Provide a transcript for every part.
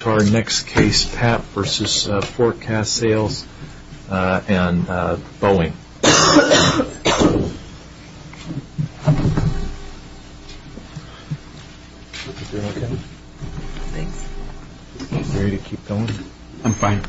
to our next case, Papp v. Fore Kast Sales and Boeing. Papp v. Fore Kast Sales and Boeing.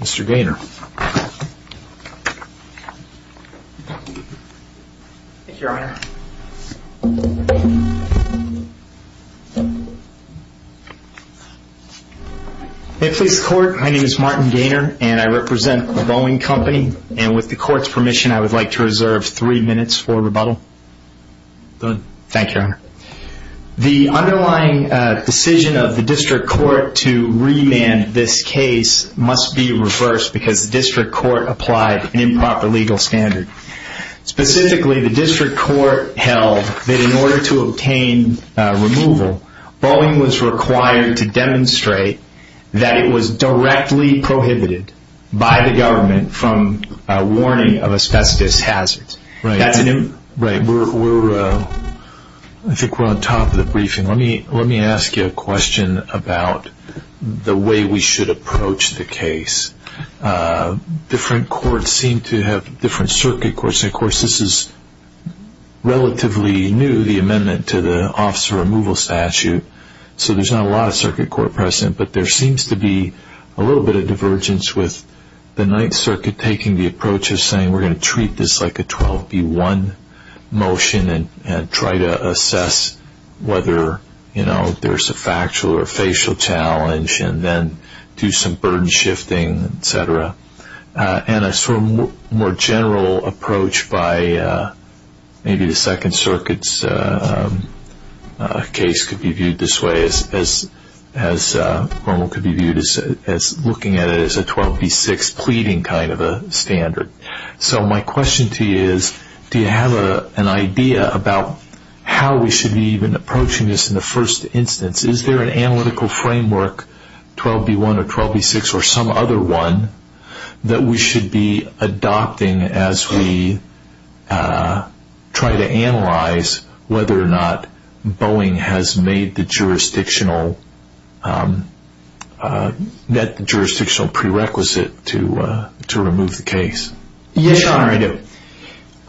Mr. Gaynor. Thank you, Your Honor. May it please the Court, my name is Martin Gaynor, and I represent the Boeing Company. And with the Court's permission, I would like to reserve three minutes for rebuttal. Go ahead. Thank you, Your Honor. The underlying decision of the District Court to remand this case must be reversed, because the District Court applied an improper legal standard. Specifically, the District Court held that in order to obtain removal, Boeing was required to demonstrate that it was directly prohibited by the government from warning of a specific hazard. Right. I think we're on top of the briefing. Let me ask you a question about the way we should approach the case. Different courts seem to have different circuit courts, and of course this is relatively new, the amendment to the officer removal statute, so there's not a lot of circuit court present, but there seems to be a little bit of divergence with the Ninth Circuit taking the approach of saying we're going to treat this like a 12B1 motion and try to assess whether there's a factual or facial challenge, and then do some burden shifting, etc. And a more general approach by maybe the Second Circuit's case could be viewed this way as looking at it as a 12B6 pleading kind of a standard. So my question to you is, do you have an idea about how we should be even approaching this in the first instance? Is there an analytical framework, 12B1 or 12B6 or some other one, that we should be adopting as we try to analyze whether or not Boeing has made the jurisdiction or met the jurisdictional prerequisite to remove the case? Yes, Your Honor, I do.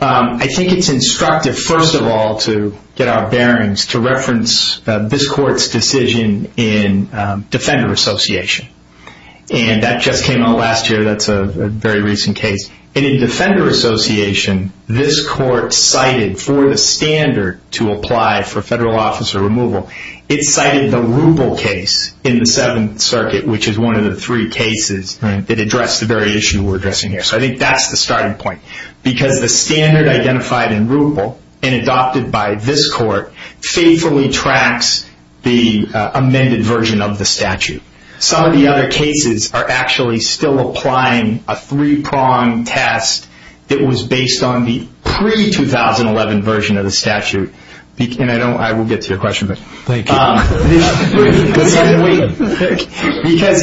I think it's instructive, first of all, to get our bearings, to reference this Court's decision in Defender Association. And that just came out last year, that's a very recent case. And in Defender Association, this Court cited for the standard to apply for federal officer removal, it cited the Ruppel case in the Seventh Circuit, which is one of the three cases that address the very issue we're addressing here. So I think that's the starting point, because the standard identified in Ruppel and adopted by this Court faithfully tracks the amended version of the statute. Some of the other cases are actually still applying a three-pronged test that was based on the pre-2011 version of the statute. And I will get to your question. Because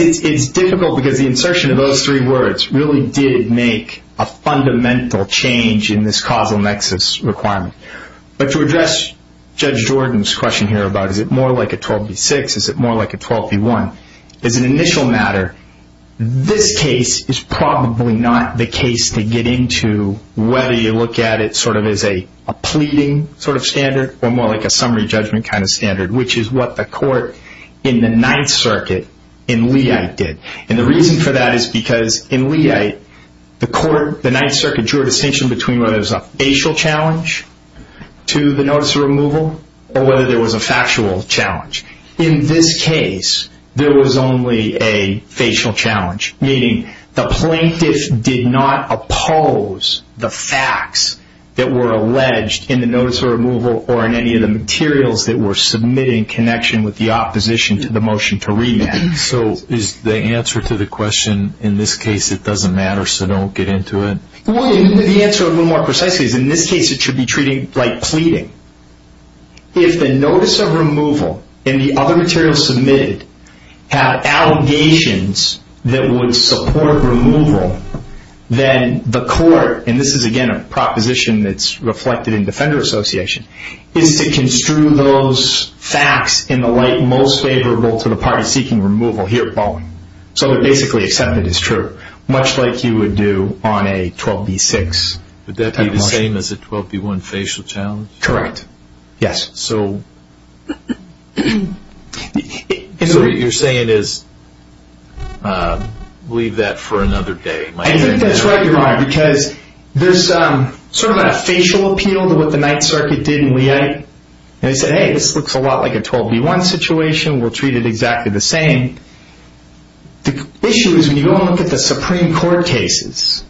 it's difficult, because the insertion of those three words really did make a fundamental change in this causal nexus requirement. But to address Judge Jordan's question here about is it more like a 12b-6, is it more like a 12b-1, as an initial matter, this case is probably not the case to get into, whether you look at it sort of as a pleading sort of standard or more like a summary judgment kind of standard, which is what the Court in the Ninth Circuit in Leite did. And the reason for that is because in Leite, the Ninth Circuit drew a distinction between whether there was a facial challenge to the notice of removal or whether there was a factual challenge. In this case, there was only a facial challenge, meaning the plaintiff did not oppose the facts that were alleged in the notice of removal or in any of the materials that were submitted in connection with the opposition to the motion to remand. So is the answer to the question, in this case it doesn't matter, so don't get into it? The answer, a little more precisely, is in this case it should be treated like pleading. If the notice of removal and the other materials submitted have allegations that would support removal, then the Court, and this is again a proposition that's reflected in Defender Association, is to construe those facts in the light most favorable to the party seeking removal here at Baldwin. So they're basically accepted as true, much like you would do on a 12b-6 type of motion. Would that be the same as a 12b-1 facial challenge? Correct. Yes. So what you're saying is leave that for another day? I think that's right, Your Honor, because there's sort of a facial appeal to what the Ninth Circuit did in Leite, and they said, hey, this looks a lot like a 12b-1 situation, we'll treat it exactly the same. The issue is when you go and look at the Supreme Court cases,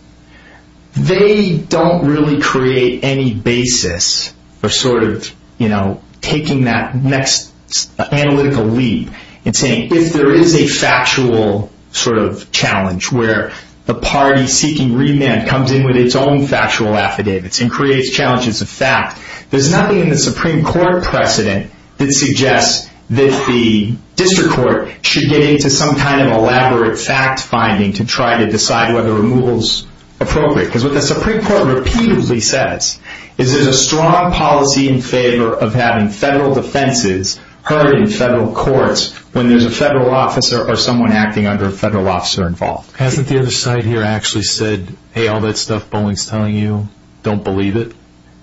they don't really create any basis for sort of, you know, taking that next analytical leap and saying if there is a factual sort of challenge where the party seeking remand comes in with its own factual affidavits and creates challenges of fact, there's nothing in the Supreme Court precedent that suggests that the District Court should get into some kind of elaborate fact-finding to try to decide whether removal's appropriate. Because what the Supreme Court repeatedly says is there's a strong policy in favor of having federal defenses heard in federal courts when there's a federal officer or someone acting under a federal officer involved. Hasn't the other side here actually said, hey, all that stuff Bowling's telling you, don't believe it?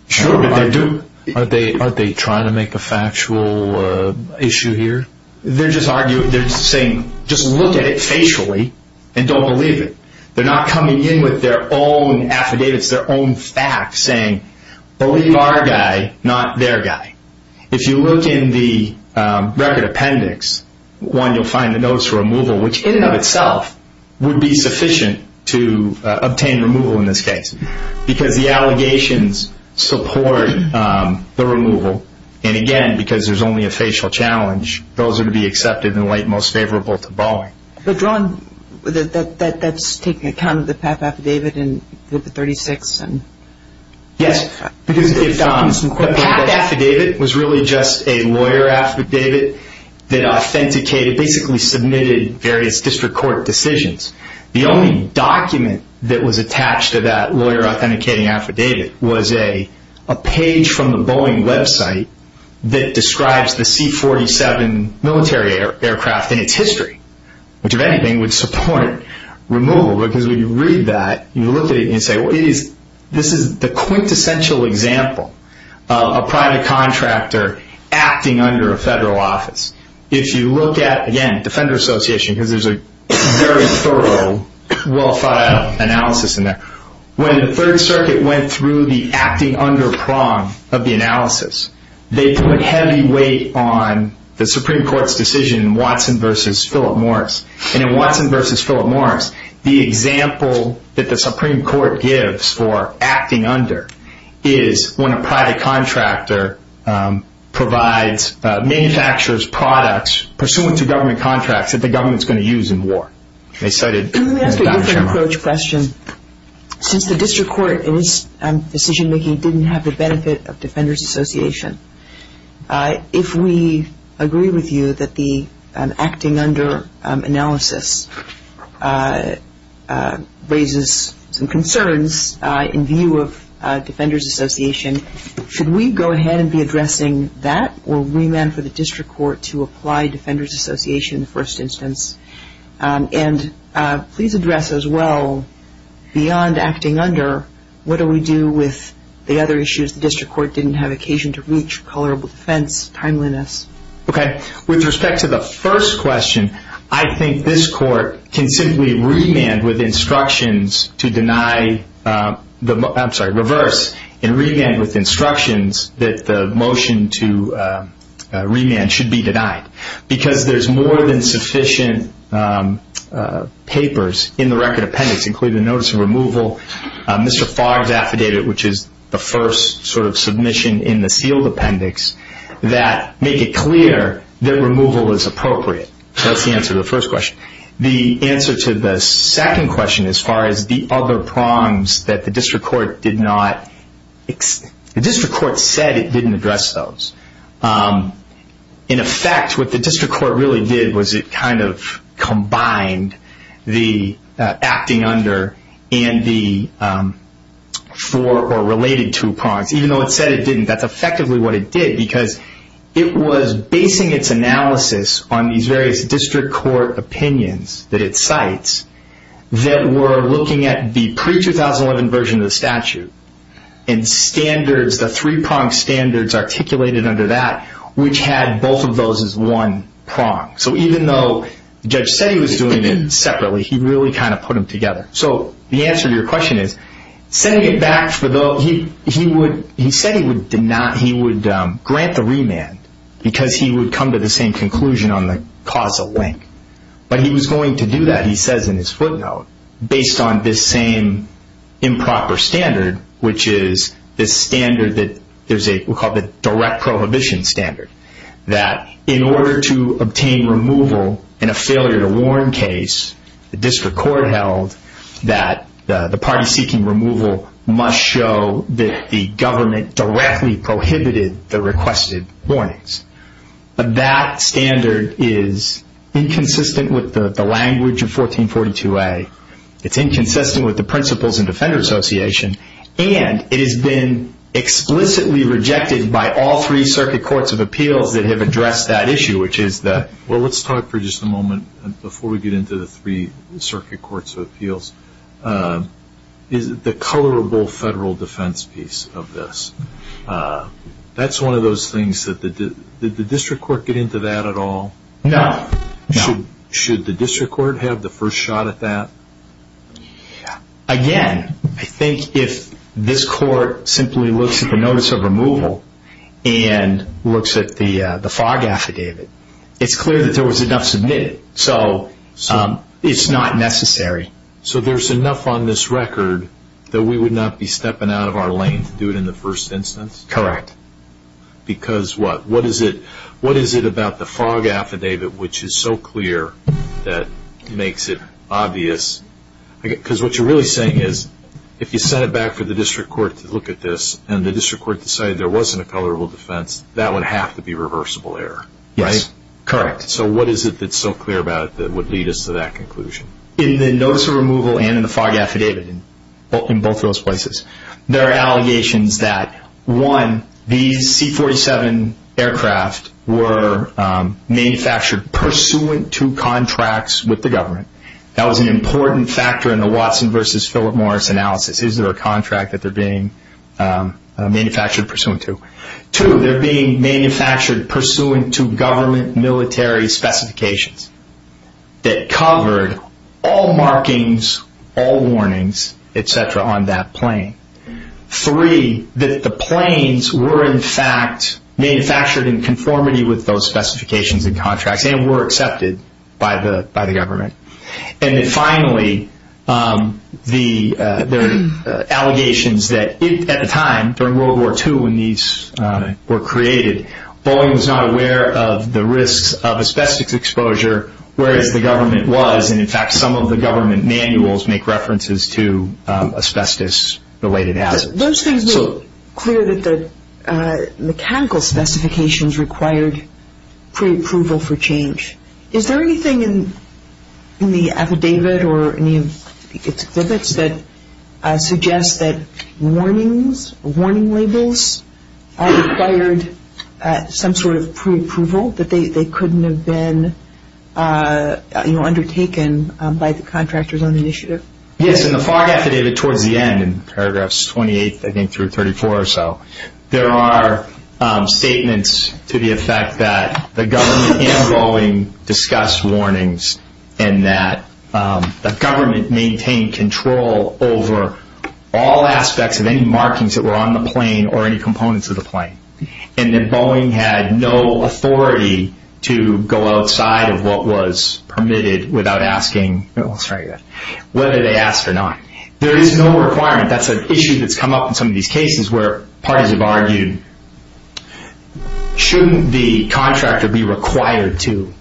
Sure, but they do. Aren't they trying to make a factual issue here? They're just arguing, they're saying just look at it facially and don't believe it. They're not coming in with their own affidavits, their own facts, saying believe our guy, not their guy. If you look in the record appendix, one, you'll find the notes for removal, which in and of itself would be sufficient to obtain removal in this case. Because the allegations support the removal, and again, because there's only a facial challenge, those are to be accepted and laid most favorable to Bowling. But, John, that's taking account of the PAP affidavit and the 36? Yes, because the PAP affidavit was really just a lawyer affidavit that authenticated, basically submitted various district court decisions. The only document that was attached to that lawyer authenticating affidavit was a page from the Boeing website that describes the C-47 military aircraft and its history, which, if anything, would support removal. Because when you read that, you look at it and say, this is the quintessential example of a private contractor acting under a federal office. If you look at, again, Defender Association, because there's a very thorough, well-thought-out analysis in there. When the Third Circuit went through the acting under prong of the analysis, they put heavy weight on the Supreme Court's decision, Watson v. Philip Morris. And in Watson v. Philip Morris, the example that the Supreme Court gives for acting under is when a private contractor provides manufacturers products pursuant to government contracts that the government's going to use in war. Let me ask you a different approach question. Since the district court in its decision-making didn't have the benefit of Defender's Association, if we agree with you that the acting under analysis raises some concerns in view of Defender's Association, should we go ahead and be addressing that or remand for the district court to apply Defender's Association in the first instance? And please address as well, beyond acting under, what do we do with the other issues the district court didn't have occasion to reach, color of defense, timeliness? Okay. With respect to the first question, I think this court can simply remand with instructions to deny, I'm sorry, reverse, and remand with instructions that the motion to remand should be denied. Because there's more than sufficient papers in the record appendix, including the notice of removal. Mr. Fogg's affidavit, which is the first sort of submission in the sealed appendix, that make it clear that removal is appropriate. So that's the answer to the first question. The answer to the second question as far as the other prongs that the district court did not, the district court said it didn't address those. In effect, what the district court really did was it kind of combined the acting under and the four or related two prongs. Even though it said it didn't, that's effectively what it did, because it was basing its analysis on these various district court opinions that it cites that were looking at the pre-2011 version of the statute and standards, the three prong standards articulated under that, which had both of those as one prong. So even though Judge Seddy was doing it separately, he really kind of put them together. So the answer to your question is, he said he would grant the remand because he would come to the same conclusion on the causal link. But he was going to do that, he says in his footnote, based on this same improper standard, which is this standard that we call the direct prohibition standard, that in order to obtain removal in a failure to warn case, the district court held that the party seeking removal must show that the government directly prohibited the requested warnings. But that standard is inconsistent with the language of 1442A. It's inconsistent with the principles in Defender Association, and it has been explicitly rejected by all three circuit courts of appeals that have addressed that issue, which is the... Well, let's talk for just a moment, before we get into the three circuit courts of appeals, is the colorable federal defense piece of this. That's one of those things that the district court get into that at all? No. Should the district court have the first shot at that? Again, I think if this court simply looks at the notice of removal and looks at the fog affidavit, it's clear that there was enough submitted. So it's not necessary. So there's enough on this record that we would not be stepping out of our lane to do it in the first instance? Correct. Because what? What is it about the fog affidavit which is so clear that makes it obvious? Because what you're really saying is if you sent it back for the district court to look at this and the district court decided there wasn't a colorable defense, that would have to be reversible error, right? Yes, correct. So what is it that's so clear about it that would lead us to that conclusion? In the notice of removal and in the fog affidavit, in both of those places, there are allegations that, one, these C-47 aircraft were manufactured pursuant to contracts with the government. That was an important factor in the Watson versus Philip Morris analysis. Is there a contract that they're being manufactured pursuant to? Two, they're being manufactured pursuant to government military specifications that covered all markings, all warnings, et cetera, on that plane. Three, that the planes were, in fact, manufactured in conformity with those specifications and contracts and were accepted by the government. And then finally, there are allegations that at the time, during World War II when these were created, Boeing was not aware of the risks of asbestos exposure, whereas the government was, and, in fact, some of the government manuals make references to asbestos-related hazards. Those things make clear that the mechanical specifications required preapproval for change. Is there anything in the affidavit or any of its exhibits that suggests that warnings, warning labels required some sort of preapproval, that they couldn't have been undertaken by the contractors on the initiative? Yes, in the fog affidavit towards the end, in paragraphs 28, I think, through 34 or so, there are statements to the effect that the government and Boeing discussed warnings and that the government maintained control over all aspects of any markings that were on the plane or any components of the plane, and that Boeing had no authority to go outside of what was permitted without asking, whether they asked or not. There is no requirement. That's an issue that's come up in some of these cases where parties have argued, shouldn't the contractor be required to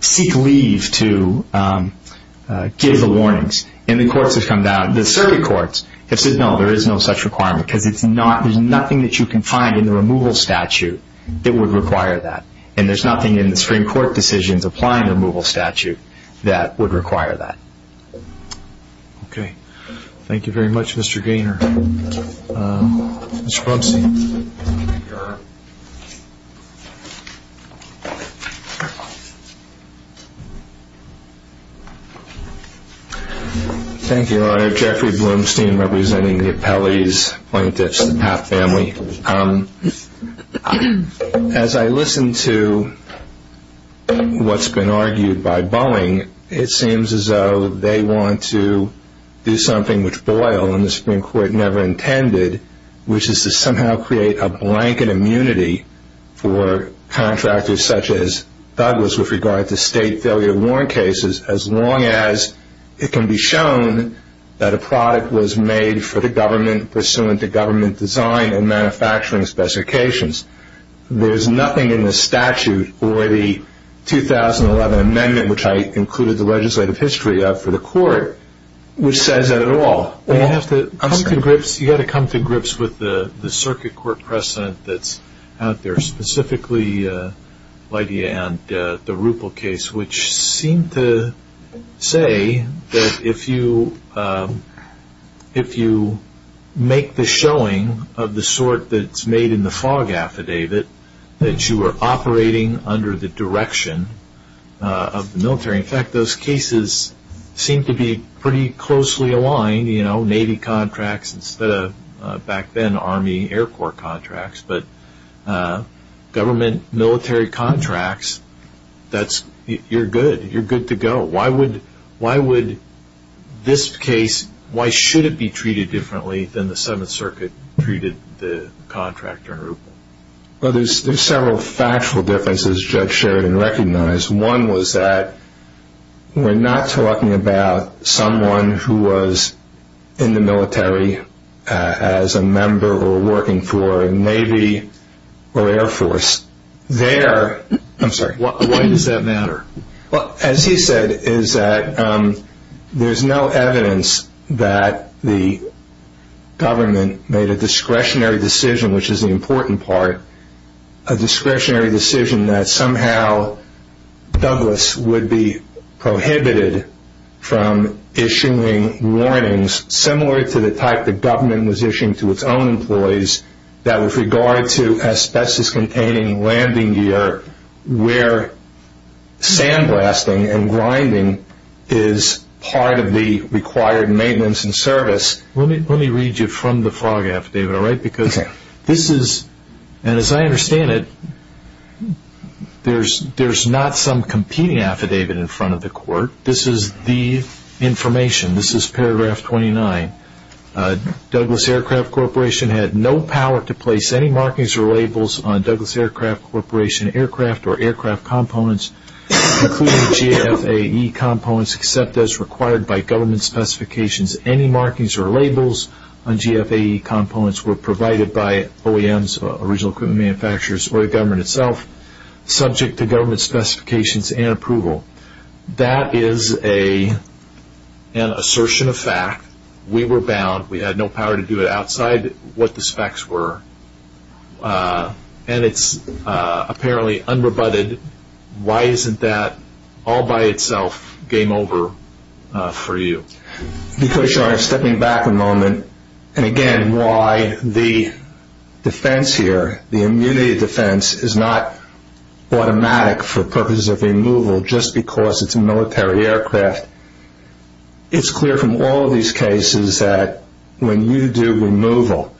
seek leave to give the warnings? And the courts have come down, the circuit courts have said, no, there is no such requirement because it's not, there's nothing that you can find in the removal statute that would require that, and there's nothing in the Supreme Court decisions applying the removal statute that would require that. Okay. Thank you very much, Mr. Gaynor. Mr. Blumstein. Thank you, Your Honor. Thank you, Your Honor. Jeffrey Blumstein representing the appellee's plaintiffs, the Papp family. As I listen to what's been argued by Boeing, it seems as though they want to do something which Boyle and the Supreme Court never intended, which is to somehow create a blanket immunity for contractors such as Douglas with regard to state failure of warrant cases, as long as it can be shown that a product was made for the government, pursuant to government design and manufacturing specifications. There's nothing in the statute or the 2011 amendment, which I included the legislative history of for the court, which says that at all. You have to come to grips with the circuit court precedent that's out there, specifically, Lydia, and the Ruppel case, which seem to say that if you make the showing of the sort that's made in the fog affidavit, that you are operating under the direction of the military. In fact, those cases seem to be pretty closely aligned, you know, Navy contracts instead of back then Army Air Corps contracts, but government military contracts, you're good, you're good to go. Why would this case, why should it be treated differently than the Seventh Circuit treated the contractor in Ruppel? Well, there's several factual differences Judge Sheridan recognized. One was that we're not talking about someone who was in the military as a member or working for a Navy or Air Force. There, I'm sorry. Why does that matter? Well, as he said, is that there's no evidence that the government made a discretionary decision, which is the important part, a discretionary decision that somehow Douglas would be prohibited from issuing warnings similar to the type the government was issuing to its own employees that with regard to asbestos-containing landing gear, where sandblasting and grinding is part of the required maintenance and service. Let me read you from the FOG affidavit, all right, because this is, and as I understand it, there's not some competing affidavit in front of the court. This is the information. This is paragraph 29. Douglas Aircraft Corporation had no power to place any markings or labels on Douglas Aircraft Corporation aircraft or aircraft components, including GFAE components, except as required by government specifications. Any markings or labels on GFAE components were provided by OEMs, original equipment manufacturers, or the government itself, subject to government specifications and approval. That is an assertion of fact. We were bound. We had no power to do it outside what the specs were, and it's apparently unrebutted. Why isn't that all by itself game over for you? Because you are stepping back a moment, and again, why the defense here, the immunity defense, is not automatic for purposes of removal just because it's a military aircraft. It's clear from all of these cases that when you do removal,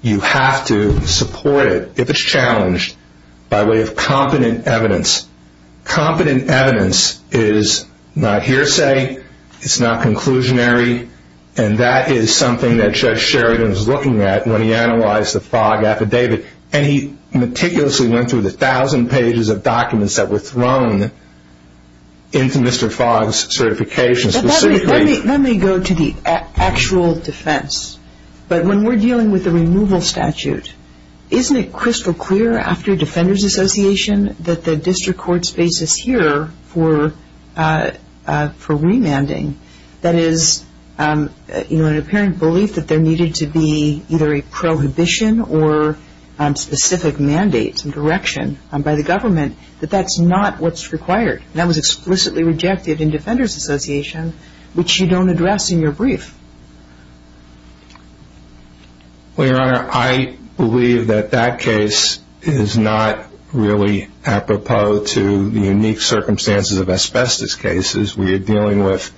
you have to support it if it's challenged by way of competent evidence. Competent evidence is not hearsay. It's not conclusionary, and that is something that Judge Sheridan was looking at when he analyzed the Fogg affidavit, and he meticulously went through the thousand pages of documents that were thrown into Mr. Fogg's certification. Let me go to the actual defense, but when we're dealing with the removal statute, isn't it crystal clear after Defender's Association that the district court's basis here for remanding, that is an apparent belief that there needed to be either a prohibition or specific mandate, some direction by the government, that that's not what's required? That was explicitly rejected in Defender's Association, which you don't address in your brief. Well, Your Honor, I believe that that case is not really apropos to the unique circumstances of asbestos cases. We are dealing with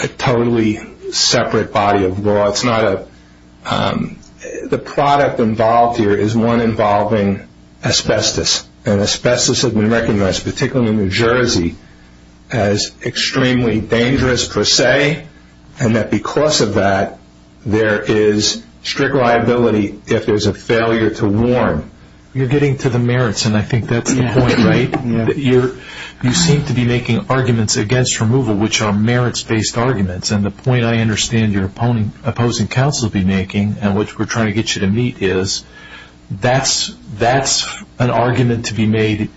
a totally separate body of law. The product involved here is one involving asbestos, and asbestos has been recognized, particularly in New Jersey, as extremely dangerous per se, and that because of that, there is strict liability if there's a failure to warn. You're getting to the merits, and I think that's the point, right? You seem to be making arguments against removal, which are merits-based arguments, and the point I understand your opposing counsel will be making, and which we're trying to get you to meet, is that's an argument to be made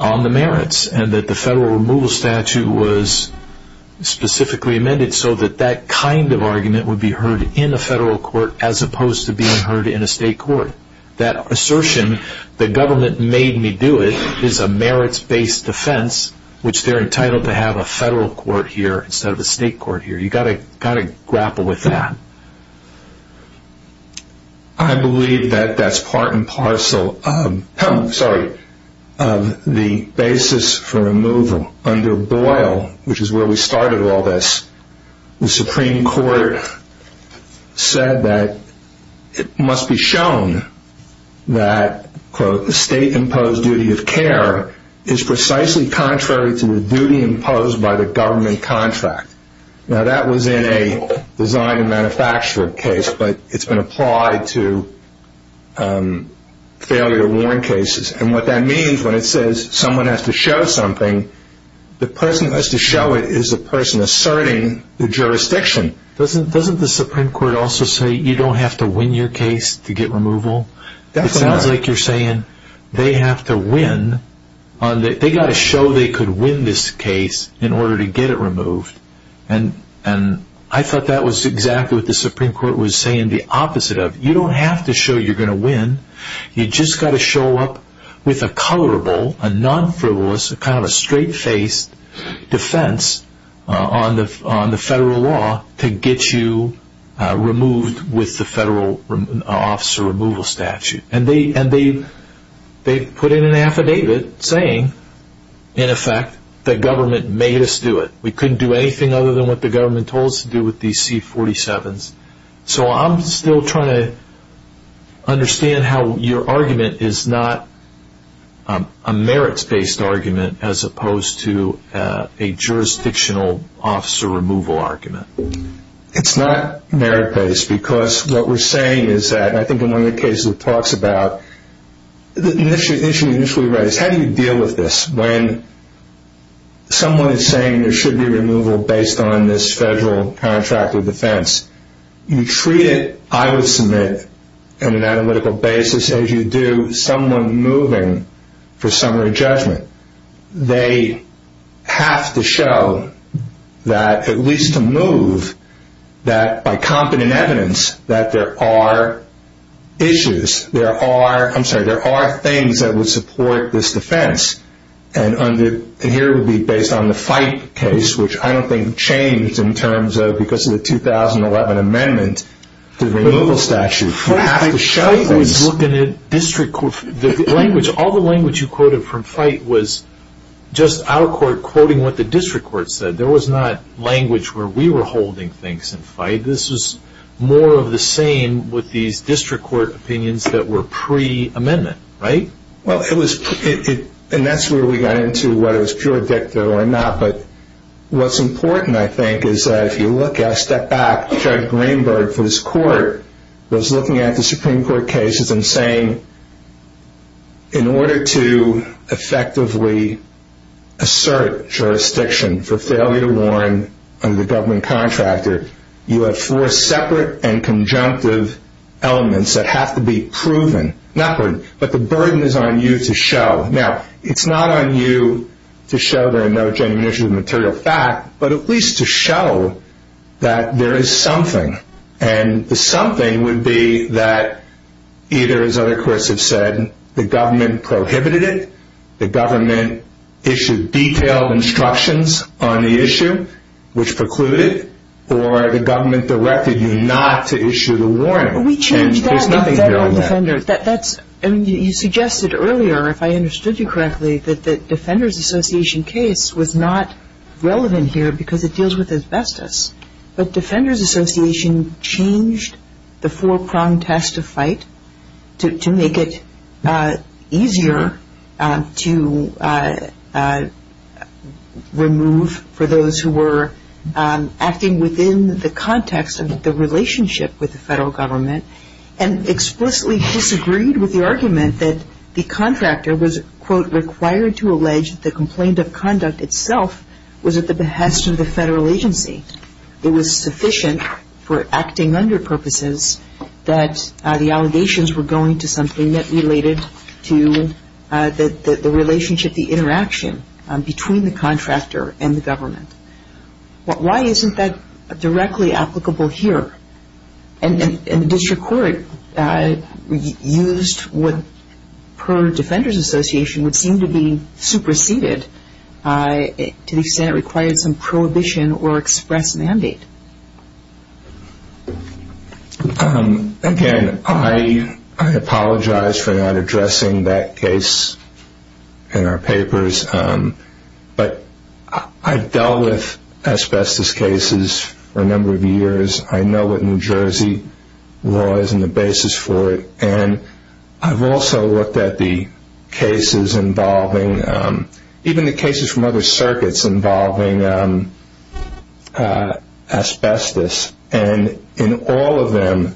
on the merits, and that the federal removal statute was specifically amended so that that kind of argument would be heard in a federal court as opposed to being heard in a state court. That assertion, the government made me do it, is a merits-based defense, which they're entitled to have a federal court here instead of a state court here. You've got to grapple with that. I believe that that's part and parcel of the basis for removal. Under Boyle, which is where we started all this, the Supreme Court said that it must be shown that, quote, that was in a design and manufactured case, but it's been applied to failure to warn cases, and what that means when it says someone has to show something, the person that has to show it is the person asserting the jurisdiction. Doesn't the Supreme Court also say you don't have to win your case to get removal? It sounds like you're saying they have to win. So they could win this case in order to get it removed, and I thought that was exactly what the Supreme Court was saying the opposite of. You don't have to show you're going to win. You've just got to show up with a colorable, a non-frivolous, kind of a straight-faced defense on the federal law to get you removed with the federal officer removal statute. And they've put in an affidavit saying, in effect, that government made us do it. We couldn't do anything other than what the government told us to do with these C-47s. So I'm still trying to understand how your argument is not a merits-based argument as opposed to a jurisdictional officer removal argument. It's not merits-based because what we're saying is that, and I think in one of your cases it talks about the issue initially raised, how do you deal with this when someone is saying there should be removal based on this federal contract of defense? You treat it, I would submit, on an analytical basis as you do someone moving for summary judgment. They have to show that, at least to move, that by competent evidence that there are issues, there are things that would support this defense. And here it would be based on the FITE case, which I don't think changed because of the 2011 amendment to the removal statute. You have to show things. All the language you quoted from FITE was just our court quoting what the district court said. There was not language where we were holding things in FITE. This was more of the same with these district court opinions that were pre-amendment, right? Well, it was, and that's where we got into whether it was pure dicta or not. But what's important, I think, is that if you look at, step back, Judge Greenberg for his court was looking at the Supreme Court cases and saying in order to effectively assert jurisdiction for failure to warn under the government contractor, you have four separate and conjunctive elements that have to be proven. But the burden is on you to show. Now, it's not on you to show there are no genuine issues of material fact, but at least to show that there is something. And the something would be that either, as other courts have said, the government prohibited it, the government issued detailed instructions on the issue, which precluded, or the government directed you not to issue the warning. There's nothing here on that. You suggested earlier, if I understood you correctly, that the Defenders Association case was not relevant here because it deals with asbestos. But Defenders Association changed the four-pronged task to fight to make it easier to remove, for those who were acting within the context of the relationship with the federal government, and explicitly disagreed with the argument that the contractor was, quote, it was sufficient for acting under purposes that the allegations were going to something that related to the relationship, the interaction between the contractor and the government. Why isn't that directly applicable here? And the district court used what, per Defenders Association, would seem to be superseded to the extent it required some prohibition or express mandate. Again, I apologize for not addressing that case in our papers, but I've dealt with asbestos cases for a number of years. I know what New Jersey law is and the basis for it, and I've also looked at the cases involving, even the cases from other circuits, involving asbestos. And in all of them,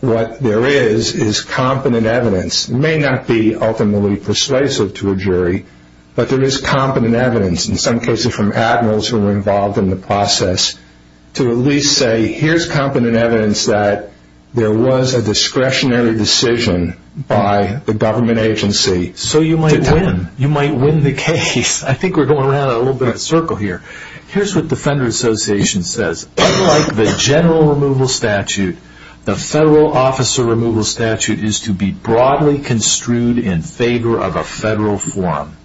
what there is is competent evidence. It may not be ultimately persuasive to a jury, but there is competent evidence, in some cases from admirals who were involved in the process, to at least say, here's competent evidence that there was a discretionary decision by the government agency. So you might win. You might win the case. I think we're going around in a little bit of a circle here. Here's what Defenders Association says. Unlike the general removal statute, the federal officer removal statute is to be broadly construed in favor of a federal forum.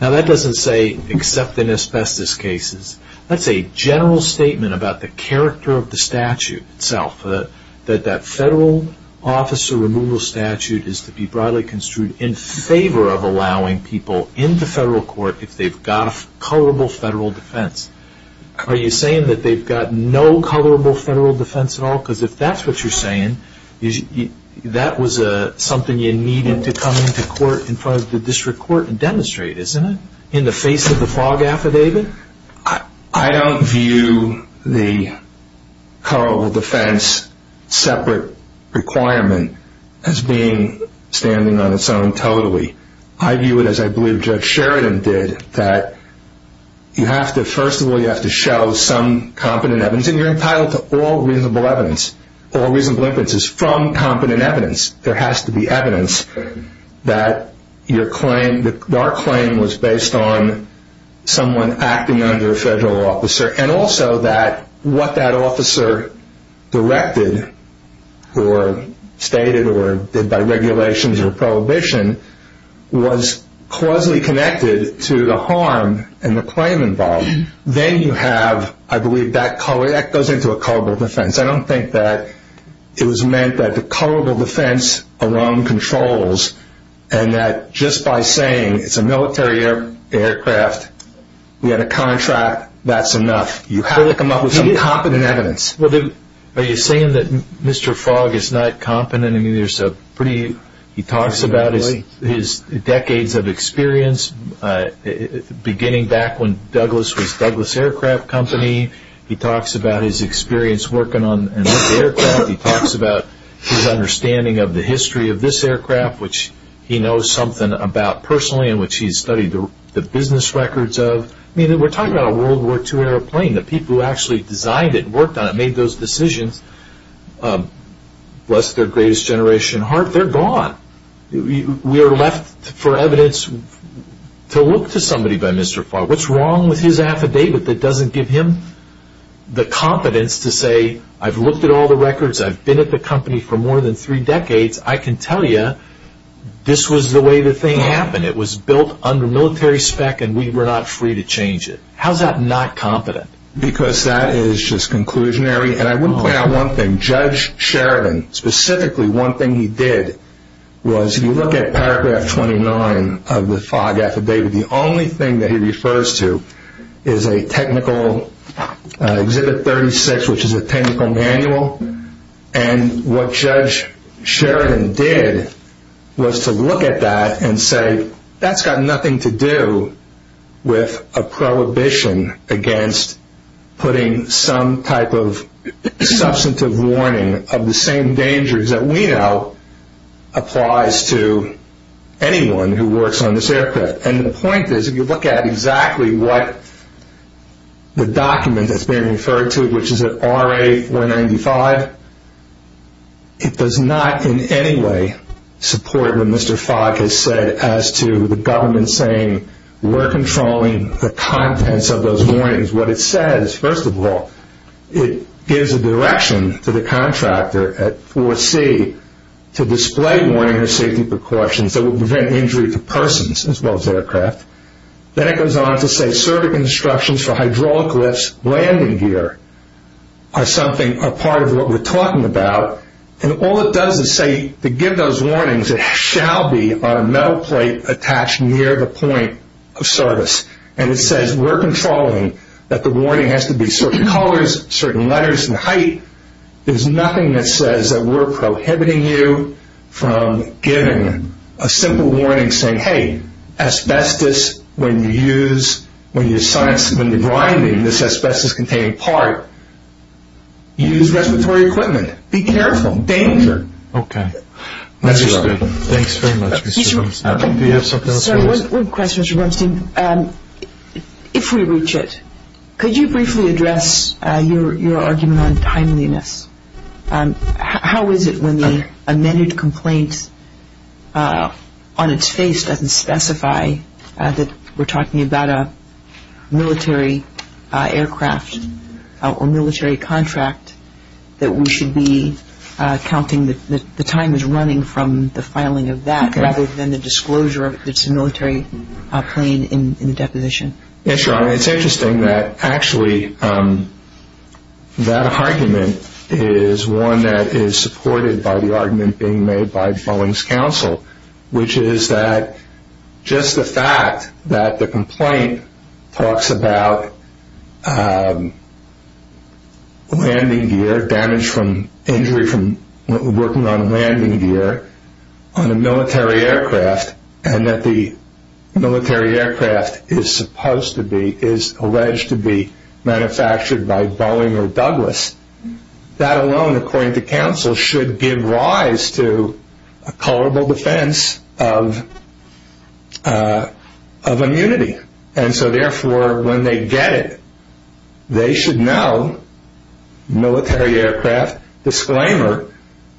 Now that doesn't say except in asbestos cases. That's a general statement about the character of the statute itself. That that federal officer removal statute is to be broadly construed in favor of allowing people in the federal court if they've got a colorable federal defense. Are you saying that they've got no colorable federal defense at all? Because if that's what you're saying, that was something you needed to come into court, in front of the district court and demonstrate, isn't it? In the face of the fog affidavit? I don't view the colorable defense separate requirement as being standing on its own totally. I view it as I believe Judge Sheridan did, that you have to, first of all, you have to show some competent evidence. And you're entitled to all reasonable evidence. All reasonable evidence is from competent evidence. There has to be evidence that your claim, that our claim was based on someone acting under a federal officer. And also that what that officer directed or stated or did by regulations or prohibition was closely connected to the harm and the claim involved. Then you have, I believe, that goes into a colorable defense. I don't think that it was meant that the colorable defense alone controls and that just by saying it's a military aircraft, we had a contract, that's enough. You have to come up with some competent evidence. Are you saying that Mr. Fogg is not competent? He talks about his decades of experience, beginning back when Douglas was Douglas Aircraft Company. He talks about his experience working on this aircraft. He talks about his understanding of the history of this aircraft, which he knows something about personally and which he's studied the business records of. We're talking about a World War II airplane. The people who actually designed it, worked on it, made those decisions, bless their greatest generation heart, they're gone. We are left for evidence to look to somebody by Mr. Fogg. But what's wrong with his affidavit that doesn't give him the competence to say, I've looked at all the records, I've been at the company for more than three decades, I can tell you this was the way the thing happened. It was built under military spec and we were not free to change it. How's that not competent? Because that is just conclusionary. I would point out one thing. Judge Sheridan, specifically one thing he did was, if you look at paragraph 29 of the Fogg affidavit, the only thing that he refers to is a technical, Exhibit 36, which is a technical manual. What Judge Sheridan did was to look at that and say, that's got nothing to do with a prohibition against putting some type of substantive warning of the same dangers that we know applies to anyone who works on this aircraft. And the point is, if you look at exactly what the document that's being referred to, which is RA-495, it does not in any way support what Mr. Fogg has said as to the government saying, we're controlling the contents of those warnings. What it says, first of all, it gives a direction to the contractor at 4C to display warning and safety precautions that would prevent injury to persons as well as aircraft. Then it goes on to say, service instructions for hydraulic lifts landing gear are something, are part of what we're talking about. And all it does is say, to give those warnings, it shall be on a metal plate attached near the point of service. And it says, we're controlling that the warning has to be certain colors, certain letters and height. There's nothing that says that we're prohibiting you from giving a simple warning saying, hey, asbestos, when you use, when you're grinding this asbestos-containing part, use respiratory equipment. Be careful. Danger. Okay. Mr. Rubenstein. Thanks very much, Mr. Rubenstein. Do you have something else? Sorry, one question, Mr. Rubenstein. If we reach it, could you briefly address your argument on timeliness? How is it when the amended complaint on its face doesn't specify that we're talking about a military aircraft or military contract that we should be counting the time that's running from the filing of that rather than the disclosure that it's a military plane in the deposition? Yes, Your Honor. It's interesting that actually that argument is one that is supported by the argument being made by Boeing's counsel, which is that just the fact that the complaint talks about landing gear, damage from injury from working on landing gear on a military aircraft, and that the military aircraft is supposed to be, is alleged to be manufactured by Boeing or Douglas, that alone, according to counsel, should give rise to a culpable defense of immunity. And so, therefore, when they get it, they should know military aircraft disclaimer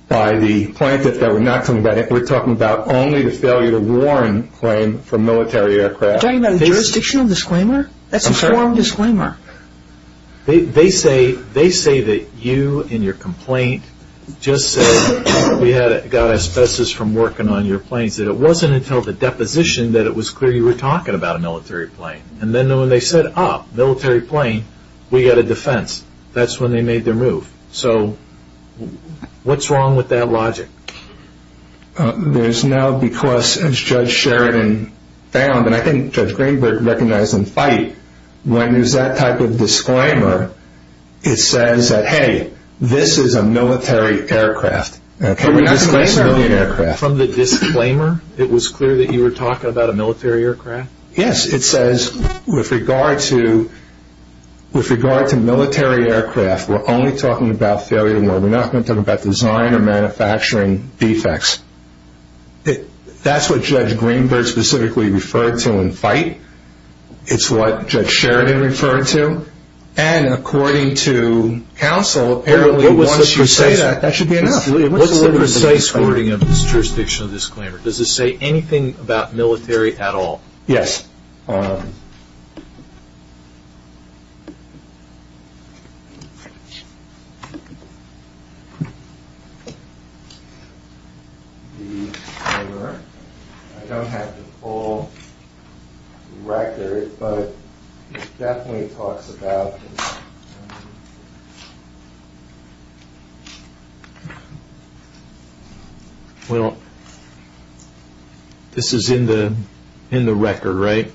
by the plaintiff that we're not talking about it. We're talking about only the failure to warn claim from military aircraft. You're talking about a jurisdictional disclaimer? That's a formal disclaimer. They say that you in your complaint just said we got asbestos from working on your planes, that it wasn't until the deposition that it was clear you were talking about a military plane. And then when they said, ah, military plane, we got a defense. That's when they made their move. So what's wrong with that logic? There's now because, as Judge Sheridan found, and I think Judge Greenberg recognized in Fight, when there's that type of disclaimer, it says that, hey, this is a military aircraft. From the disclaimer, it was clear that you were talking about a military aircraft? Yes. It says with regard to military aircraft, we're only talking about failure to warn. We're not going to talk about design or manufacturing defects. That's what Judge Greenberg specifically referred to in Fight. It's what Judge Sheridan referred to. And according to counsel, apparently once you say that, that should be enough. What's the precise wording of this jurisdictional disclaimer? Does it say anything about military at all? Yes. Well, this is in the record, right?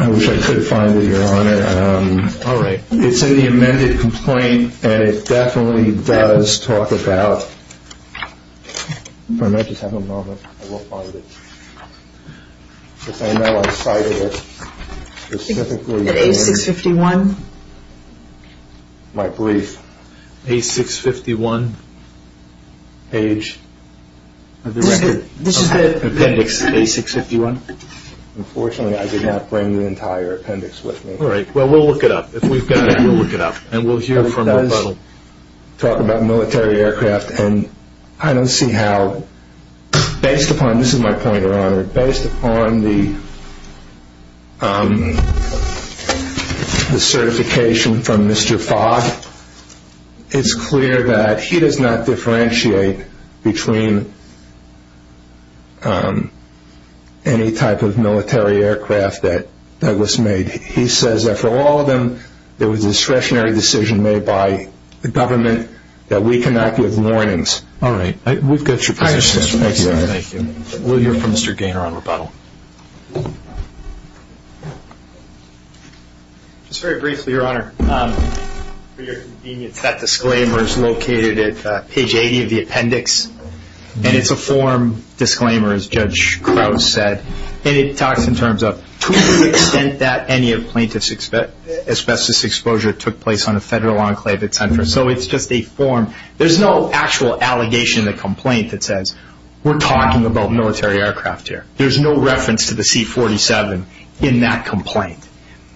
I wish I could find it, Your Honor. All right. It's in the amended complaint, and it definitely does talk about – if I might just have a moment. I will find it. I know I cited it specifically. A651? My belief. A651 page of the record. This is the appendix of A651? Unfortunately, I did not bring the entire appendix with me. All right. Well, we'll look it up. If we've got it, we'll look it up, and we'll hear from – talk about military aircraft. And I don't see how, based upon – this is my point, Your Honor. Based upon the certification from Mr. Fogg, it's clear that he does not differentiate between any type of military aircraft that Douglas made. He says that for all of them, it was a discretionary decision made by the government that we cannot give warnings. All right. We've got your position. Thank you, Your Honor. Thank you. We'll hear from Mr. Gaynor on rebuttal. Just very briefly, Your Honor, for your convenience, that disclaimer is located at page 80 of the appendix, and it's a form disclaimer, as Judge Krause said, and it talks in terms of to what extent that any plaintiff's asbestos exposure took place on a federal enclave, etc. So it's just a form. There's no actual allegation in the complaint that says, we're talking about military aircraft here. There's no reference to the C-47 in that complaint,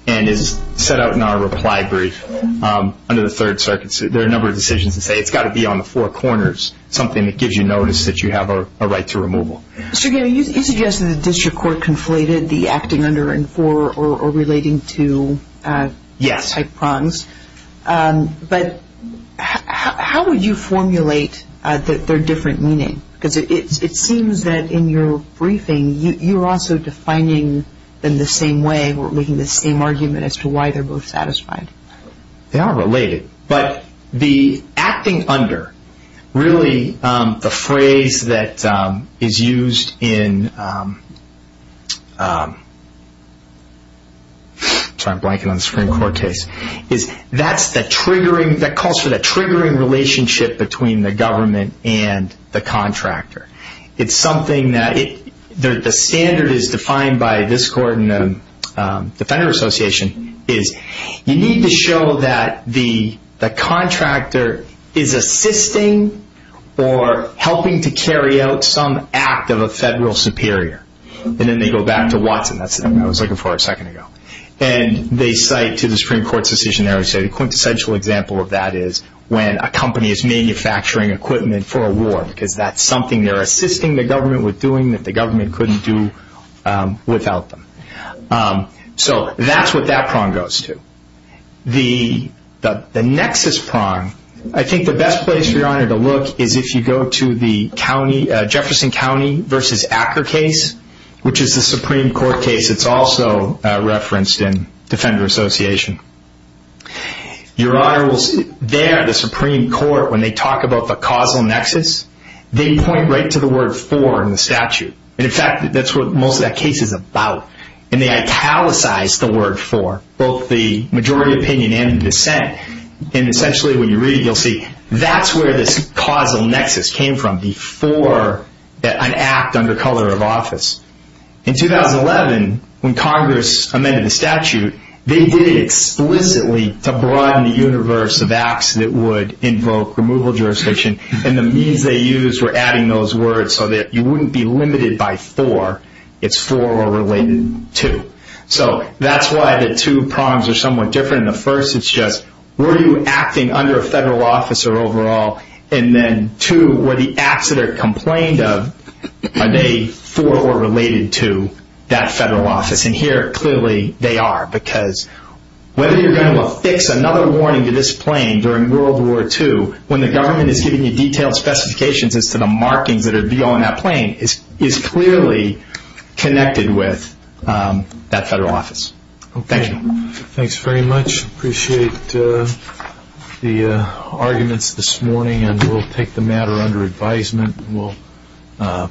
and is set out in our reply brief under the Third Circuit. There are a number of decisions that say it's got to be on the four corners, something that gives you notice that you have a right to removal. Mr. Gaynor, you suggested the district court conflated the acting under and for or relating to type prongs. Yes. But how would you formulate their different meaning? Because it seems that in your briefing you're also defining them the same way or making the same argument as to why they're both satisfied. They are related. The acting under, really the phrase that is used in the Supreme Court case, that calls for the triggering relationship between the government and the contractor. It's something that the standard is defined by this court and the Defender Association. You need to show that the contractor is assisting or helping to carry out some act of a federal superior. Then they go back to Watson. That's what I was looking for a second ago. They cite to the Supreme Court's decision there, a quintessential example of that is when a company is manufacturing equipment for a war because that's something they're assisting the government with doing that the government couldn't do without them. So that's what that prong goes to. The nexus prong, I think the best place for your Honor to look is if you go to the county, Jefferson County versus Acker case, which is the Supreme Court case. It's also referenced in Defender Association. Your Honor, there the Supreme Court, when they talk about the causal nexus, they point right to the word for in the statute. In fact, that's what most of that case is about. They italicize the word for both the majority opinion and the dissent. Essentially, when you read it, you'll see that's where this causal nexus came from before an act under color of office. In 2011, when Congress amended the statute, they did it explicitly to broaden the universe of acts that would invoke removal jurisdiction. The means they used were adding those words so that you wouldn't be limited by for. It's for or related to. That's why the two prongs are somewhat different. In the first, it's just were you acting under a federal office or overall? Then two, were the acts that are complained of, are they for or related to that federal office? Here, clearly they are because whether you're going to affix another warning to this plane during World War II, when the government is giving you detailed specifications as to the markings that would be on that plane, it's clearly connected with that federal office. Thank you. Thanks very much. Appreciate the arguments this morning. We'll take the matter under advisement.